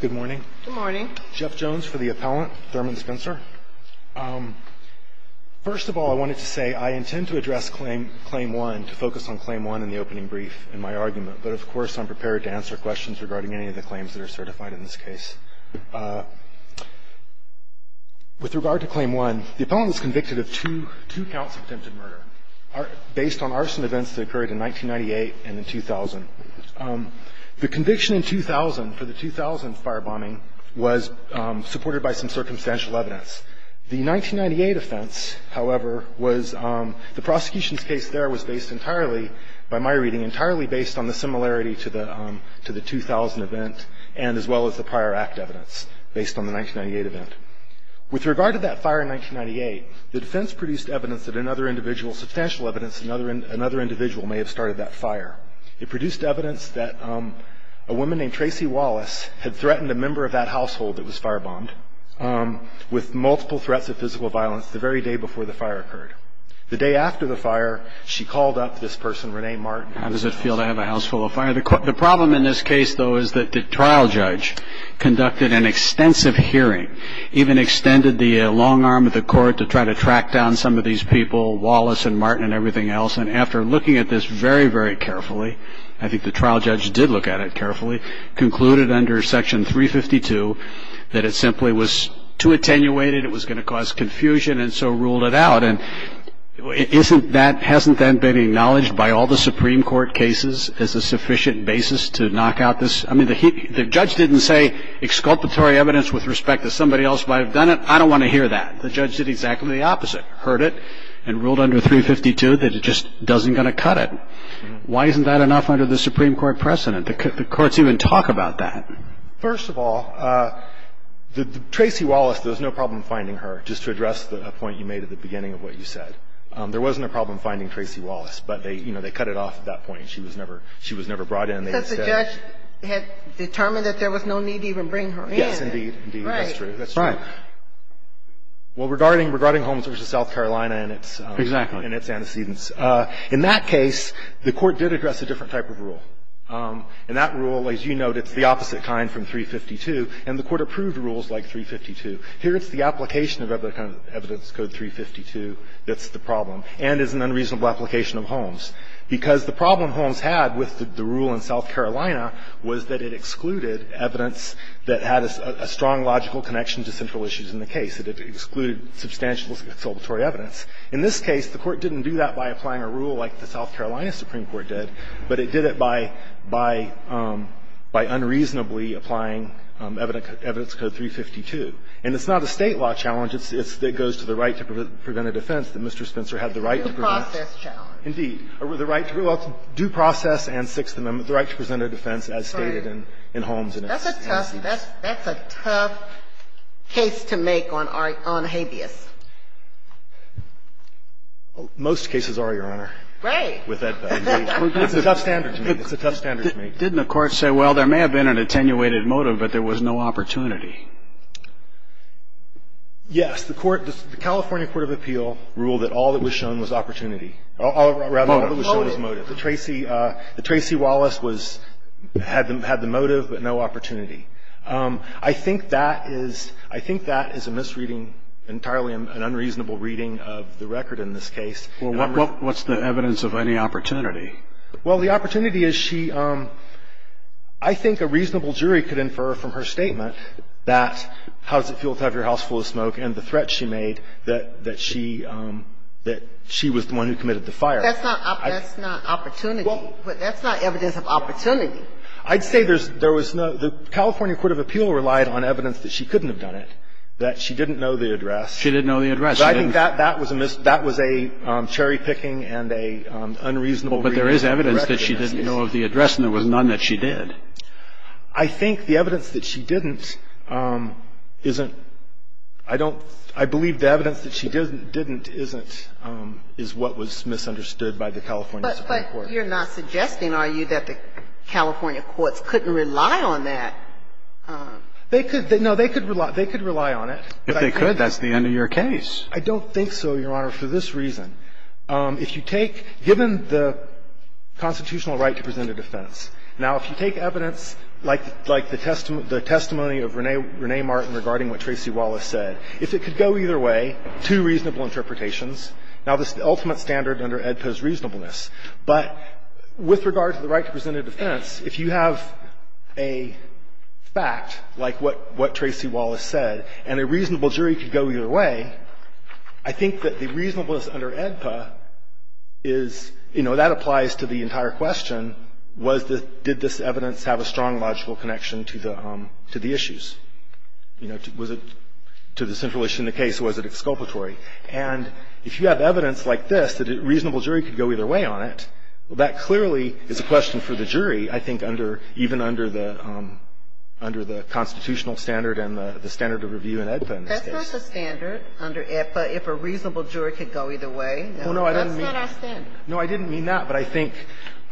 Good morning. Good morning. Jeff Jones for the appellant Thurman Spencer. First of all I wanted to say I intend to address claim one to focus on claim one in the opening brief in my argument but of course I'm prepared to answer questions regarding any of the claims that are certified in this case. With regard to claim one the appellant is convicted of two counts of attempted murder based on arson events that occurred in 1998 and in 2000. The conviction in 2000 for the 2000 fire bombing was supported by some circumstantial evidence. The 1998 offense however was the prosecution's case there was based entirely, by my reading, entirely based on the similarity to the 2000 event and as well as the prior act evidence based on the 1998 event. With regard to that fire in 1998 the defense produced evidence that another individual substantial evidence another individual may have started that fire. It produced evidence that a woman named Tracey Wallace had been involved in the fire and that Tracey Wallace had threatened a member of that household that was fire bombed with multiple threats of physical violence the very day before the fire occurred. The day after the fire she called up this person, Rene Martin, how does it feel to have a house full of fire? The problem in this case though is that the trial judge conducted an extensive hearing, even extended the long arm of the court to try to track down some of these people, Wallace and Martin and everything else and after looking at this very, very carefully, I think the trial judge did look at it carefully, concluded under section 352 that it simply was too attenuated, it was going to cause confusion and so ruled it out. And isn't that, hasn't that been acknowledged by all the Supreme Court cases as a sufficient basis to knock out this, I mean the judge didn't say exculpatory evidence with respect to somebody else who might have done it, I don't want to hear that. The judge did exactly the opposite, heard it and ruled under 352 that it just doesn't going to cut it. Why isn't that enough under the Supreme Court precedent? The courts even talk about that. First of all, Tracey Wallace, there's no problem finding her, just to address the point you made at the beginning of what you said. There wasn't a problem finding Tracey Wallace, but they cut it off at that point. She was never brought in. Since the judge had determined that there was no need to even bring her in. Yes, indeed, indeed, that's true, that's true. Right. Well, regarding Holmes v. South Carolina and its antecedents, in that case the court did address a different type of rule. And that rule, as you note, it's the opposite kind from 352, and the court approved rules like 352. Here it's the application of evidence code 352 that's the problem, and it's an unreasonable application of Holmes. Because the problem Holmes had with the rule in South Carolina was that it excluded evidence that had a strong logical connection to central issues in the case. It excluded substantial exculpatory evidence. In this case, the court didn't do that by applying a rule like the South Carolina Supreme Court did, but it did it by unreasonably applying evidence code 352. And it's not a State law challenge. It goes to the right to prevent a defense that Mr. Spencer had the right to prevent. It's a due process challenge. Indeed. The right to do process and Sixth Amendment, the right to present a defense as stated in Holmes and its antecedents. That's a tough case to make on habeas. Most cases are, Your Honor. Right. I mean, it's a tough standard to make. It's a tough standard to make. Didn't the Court say, well, there may have been an attenuated motive, but there was no opportunity? Yes. The Court, the California Court of Appeal ruled that all that was shown was opportunity or rather all that was shown was motive. The Tracy Wallace was, had the motive but no opportunity. I think that is a misreading, entirely an unreasonable reading of the record in this case. Well, what's the evidence of any opportunity? Well, the opportunity is she – I think a reasonable jury could infer from her statement that how does it feel to have your house full of smoke and the threat she made that she was the one who committed the fire. That's not opportunity. That's not evidence of opportunity. I'd say there was no – the California Court of Appeal relied on evidence that she couldn't have done it, that she didn't know the address. She didn't know the address. But I think that was a mis – that was a cherry-picking and an unreasonable reading of the record. Well, but there is evidence that she didn't know of the address, and there was none that she did. I think the evidence that she didn't isn't – I don't – I believe the evidence that she didn't isn't – is what was misunderstood by the California Supreme Court. But you're not suggesting, are you, that the California courts couldn't rely on that? They could – no, they could rely on it. If they could, that's the end of your case. I don't think so, Your Honor, for this reason. If you take – given the constitutional right to present a defense, now, if you take evidence like the testimony of Renee Martin regarding what Tracy Wallace said, if it could go either way, two reasonable interpretations, now, this is the ultimate standard under AEDPA's reasonableness. But with regard to the right to present a defense, if you have a fact like what Tracy Wallace said, and a reasonable jury could go either way, I think that the reasonableness under AEDPA is – you know, that applies to the entire question, was the – did this evidence have a strong logical connection to the – to the issues? You know, was it – to the central issue in the case, was it exculpatory? And if you have evidence like this, that a reasonable jury could go either way on it, well, that clearly is a question for the jury, I think, under – even under the constitutional standard and the standard of review in AEDPA, in this case. Ginsburg-McCarthy That's not the standard under AEDPA, if a reasonable juror could go either way. No, that's not our standard. Fisher No, I didn't mean – no, I didn't mean that. But I think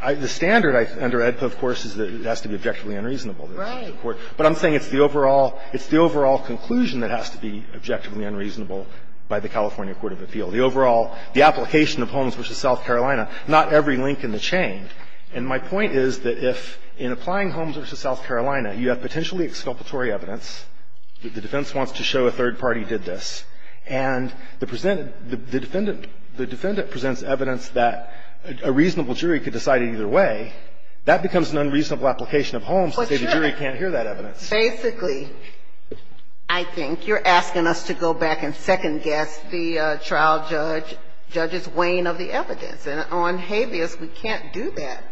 the standard under AEDPA, of course, is that it has to be objectively unreasonable. Ginsburg-McCarthy Right. Fisher But I'm saying it's the overall – it's the overall conclusion that has to be objectively unreasonable by the California court of appeal. The overall – the application of Holmes v. South Carolina, not every link in the chain. And my point is that if, in applying Holmes v. South Carolina, you have potentially exculpatory evidence, the defense wants to show a third party did this, and the defendant presents evidence that a reasonable jury could decide either way, that becomes an unreasonable application of Holmes to say the jury can't hear that Ginsburg-McCarthy Basically, I think you're asking us to go back and second-guess the trial judge's weighing of the evidence. And on habeas, we can't do that.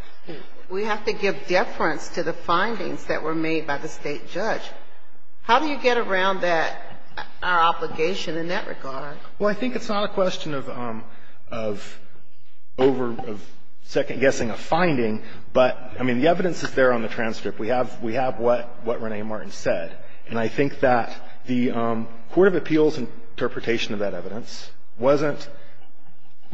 We have to give deference to the findings that were made by the State judge. How do you get around that – our obligation in that regard? Fisher Well, I think it's not a question of over-second-guessing a finding, but, I mean, the evidence is there on the transcript. We have what Renee Martin said. And I think that the court of appeals interpretation of that evidence wasn't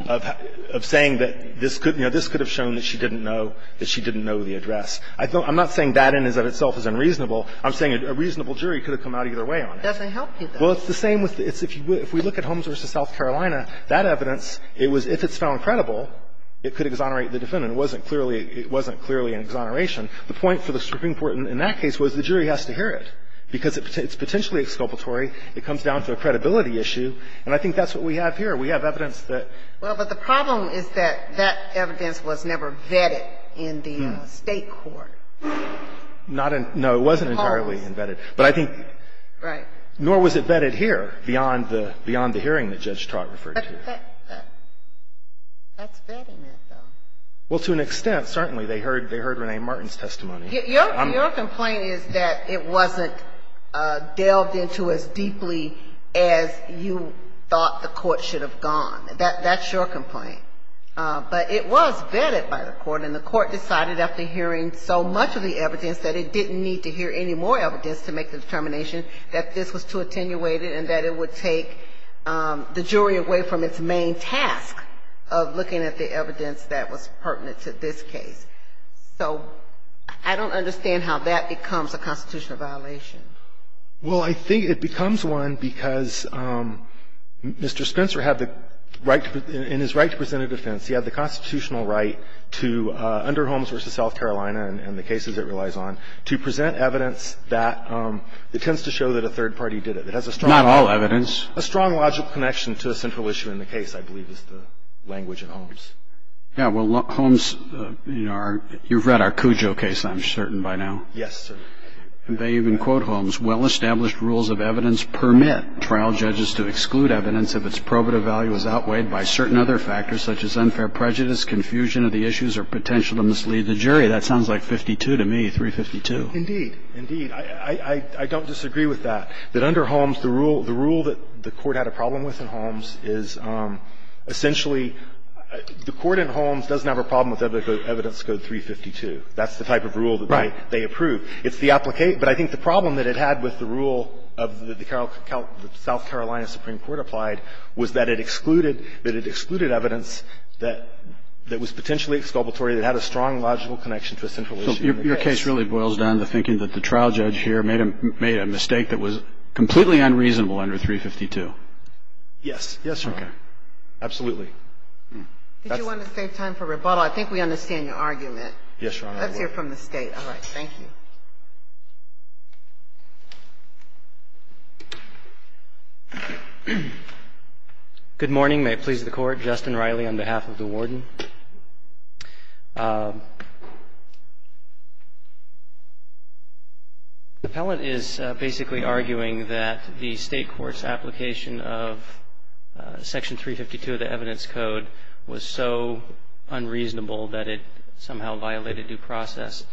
of saying that this could have shown that she didn't know the address. I'm not saying that in and of itself is unreasonable. I'm saying a reasonable jury could have come out either way on it. Sotomayor Doesn't help you, though. Fisher Well, it's the same with the – if we look at Holmes v. South Carolina, that evidence, it was – if it's found credible, it could exonerate the defendant. It wasn't clearly an exoneration. The point for the Supreme Court in that case was the jury has to hear it, because it's potentially exculpatory. It comes down to a credibility issue. And I think that's what we have here. We have evidence that – Sotomayor The problem is that that evidence was never vetted in the State court. Fisher Not in – no, it wasn't entirely vetted. But I think – Sotomayor Right. Fisher Nor was it vetted here beyond the hearing that Judge Trott referred to. Sotomayor That's vetting it, though. Fisher Well, to an extent, certainly. They heard Renee Martin's testimony. Sotomayor Your complaint is that it wasn't delved into as deeply as you thought the court should have gone. That's your complaint. But it was vetted by the court, and the court decided after hearing so much of the evidence that it didn't need to hear any more evidence to make the determination that this was too attenuated and that it would take the jury away from its main task of looking at the evidence that was pertinent to this case. So I don't understand how that becomes a constitutional violation. Fisher Well, I think it becomes one because Mr. Spencer had the right – in his right to present a defense, he had the constitutional right to, under Holmes v. South Carolina and the cases it relies on, to present evidence that – that tends to show that a third party did it. It has a strong – Roberts Not all evidence. Fisher A strong logical connection to a central issue in the case, I believe, is the language in Holmes. Roberts Yeah, well, Holmes – you've read our Cujo case, I'm certain, by now. Fisher Yes, sir. Roberts And they even quote Holmes, "...well-established rules of evidence permit trial judges to exclude evidence if its probative value is outweighed by certain other factors such as unfair prejudice, confusion of the issues, or potential to mislead the jury." That sounds like 52 to me, 352. Fisher Indeed. Indeed. I don't disagree with that, that under Holmes, the rule – the rule that the court had a problem with in Holmes is essentially – the court in Holmes doesn't have a problem with evidence code 352. That's the type of rule that they approve. Fisher Right. It's the – but I think the problem that it had with the rule of the South Carolina Supreme Court applied was that it excluded – that it excluded evidence that was potentially exculpatory that had a strong logical connection to a central issue. Roberts So your case really boils down to thinking that the trial judge here made a mistake that was completely unreasonable under 352. Fisher Yes. Yes, Your Honor. Roberts Okay. Fisher Absolutely. That's – Ginsburg Did you want to save time for rebuttal? I think we understand your argument. Fisher Yes, Your Honor. I would. Ginsburg Let's hear from the State. All right. Thank you. Justice Breyer, you have five minutes. Justice Breyer Good morning. May it please the Court. Justin Riley, on behalf of the Warden. The appellate is basically arguing that the State court's application of Section 352 of the evidence code was so unreasonable that it somehow violated due process.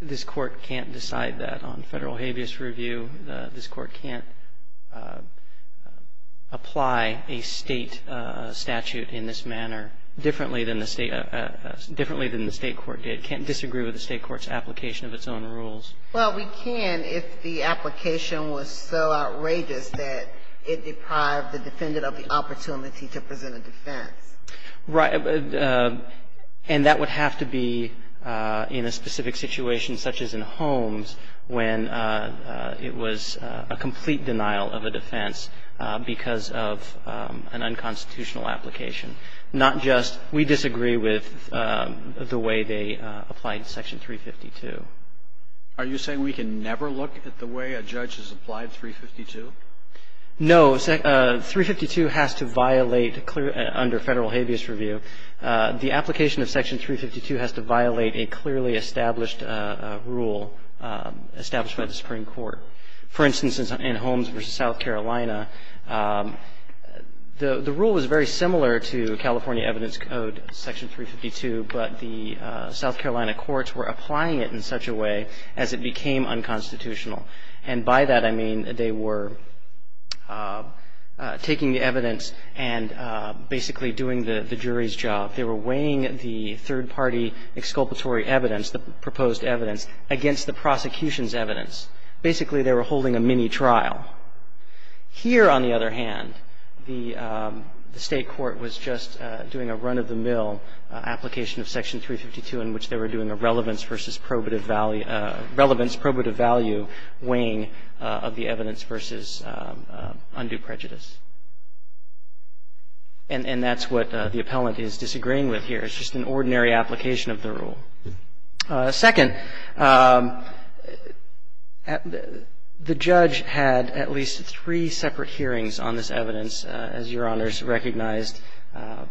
This Court can't decide that on federal habeas review. This Court can't apply a State statute in this manner differently than the State – differently than the State court did. Can't disagree with the State court's application of its own rules. Ginsburg Well, we can if the application was so outrageous that it deprived the defendant of the opportunity to present a defense. And that would have to be in a specific situation, such as in Holmes, when it was a complete denial of a defense because of an unconstitutional application, not just, we disagree with the way they applied Section 352. Kennedy Are you saying we can never look at the way a judge has applied 352? Riley No, 352 has to violate, under federal habeas review, the application of Section 352 has to violate a clearly established rule established by the Supreme Court. For instance, in Holmes v. South Carolina, the rule was very similar to California evidence code Section 352, but the South Carolina courts were applying it in such a way as it became unconstitutional. And by that I mean they were taking the evidence and basically doing the jury's job. They were weighing the third-party exculpatory evidence, the proposed evidence, against the prosecution's evidence. Basically, they were holding a mini-trial. Here, on the other hand, the State court was just doing a run-of-the-mill application of Section 352 in which they were doing a relevance versus probative value, relevance, probative value weighing of the evidence versus undue prejudice. And that's what the appellant is disagreeing with here. It's just an ordinary application of the rule. Second, the judge had at least three separate hearings on this evidence, as Your Honors recognized, and the State court has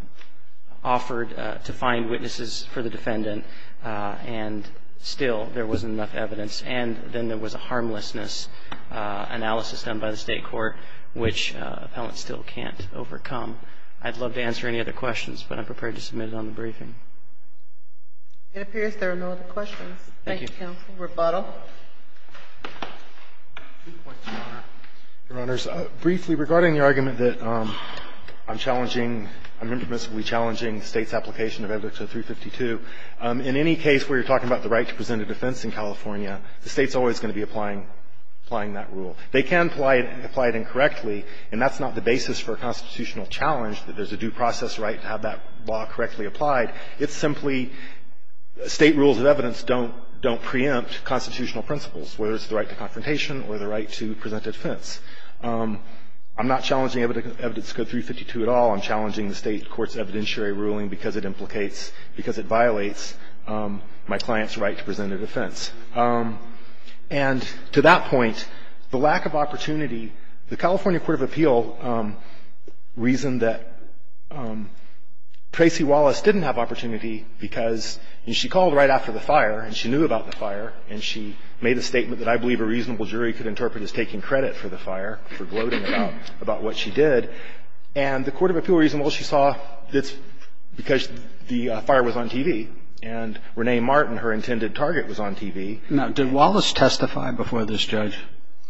offered to find witnesses for the defendant, and still there wasn't enough evidence. And then there was a harmlessness analysis done by the State court, which appellants still can't overcome. I'd love to answer any other questions, but I'm prepared to submit it on the briefing. It appears there are no other questions. Thank you, counsel. Thank you. Rebuttal. Your Honors, briefly, regarding the argument that I'm challenging, I'm intimidatingly challenging the State's application of Evidence 352, in any case where you're talking about the right to present a defense in California, the State's always going to be applying that rule. They can apply it incorrectly, and that's not the basis for a constitutional challenge, that there's a due process right to have that law correctly applied. It's simply State rules of evidence don't preempt constitutional principles, whether it's the right to confrontation or the right to present a defense. I'm not challenging Evidence 352 at all. I'm challenging the State court's evidentiary ruling because it implicates, because it violates my client's right to present a defense. And to that point, the lack of opportunity, the California court of appeal reasoned that Tracy Wallace didn't have opportunity because, and she called right after the fire, and she knew about the fire, and she made a statement that I believe a reasonable jury could interpret as taking credit for the fire, for gloating about what she did. And the court of appeal reasoned, well, she saw this because the fire was on TV, and Renee Martin, her intended target, was on TV. Now, did Wallace testify before this judge?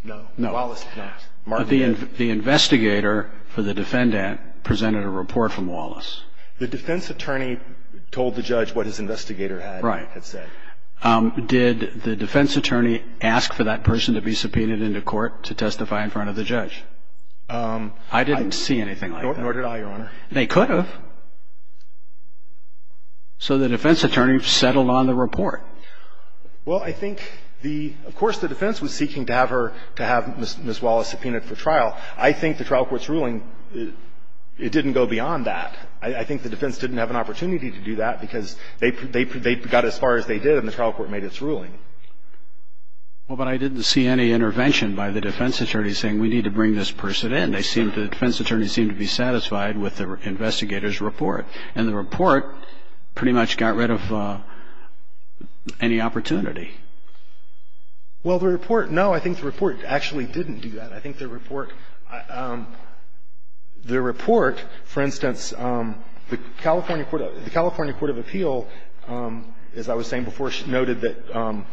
No. No. Wallace did not. Martin did. But the investigator for the defendant presented a report from Wallace. The defense attorney told the judge what his investigator had said. Right. Did the defense attorney ask for that person to be subpoenaed into court to testify in front of the judge? I didn't see anything like that. Nor did I, Your Honor. They could have. So the defense attorney settled on the report. Well, I think the of course the defense was seeking to have her, to have Ms. Wallace subpoenaed for trial. I think the trial court's ruling, it didn't go beyond that. I think the defense didn't have an opportunity to do that, because they got as far as they did, and the trial court made its ruling. Well, but I didn't see any intervention by the defense attorney saying we need to bring this person in. They seemed to, the defense attorney seemed to be satisfied with the investigator's report. And the report pretty much got rid of any opportunity. Well, the report, no. I think the report actually didn't do that. I think the report, the report, for instance, the California Court of Appeal, as I was saying before, she noted that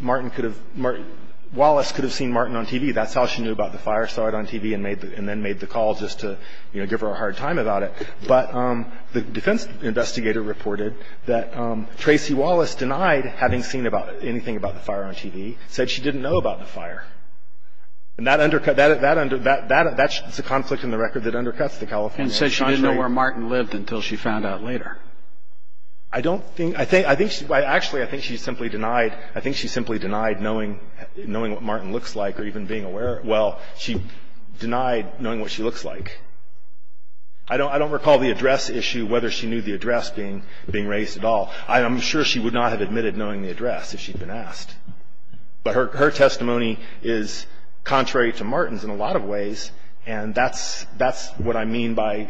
Martin could have, Martin, Wallace could have seen Martin on TV. That's how she knew about the fire, saw it on TV, and made the, and then made the call just to, you know, give her a hard time about it. But the defense investigator reported that Tracey Wallace denied having seen about anything about the fire on TV, said she didn't know about the fire. And that undercut, that, that, that, that's a conflict in the record that undercuts the California sanctuary. And said she didn't know where Martin lived until she found out later. I don't think, I think, I think she, actually I think she simply denied, I think she simply denied knowing, knowing what Martin looks like or even being aware, well, she denied knowing what she looks like. I don't, I don't recall the address issue, whether she knew the address being, being raised at all. I'm sure she would not have admitted knowing the address if she'd been asked. But her, her testimony is contrary to Martin's in a lot of ways. And that's, that's what I mean by,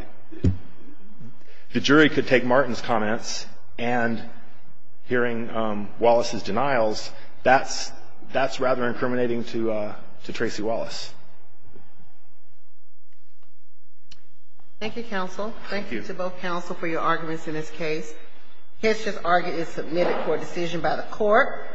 the jury could take Martin's comments and hearing Wallace's denials, that's, that's rather incriminating to to Tracey Wallace. Thank you, counsel. Thank you to both counsel for your arguments in this case. History's argument is submitted for decision by the court.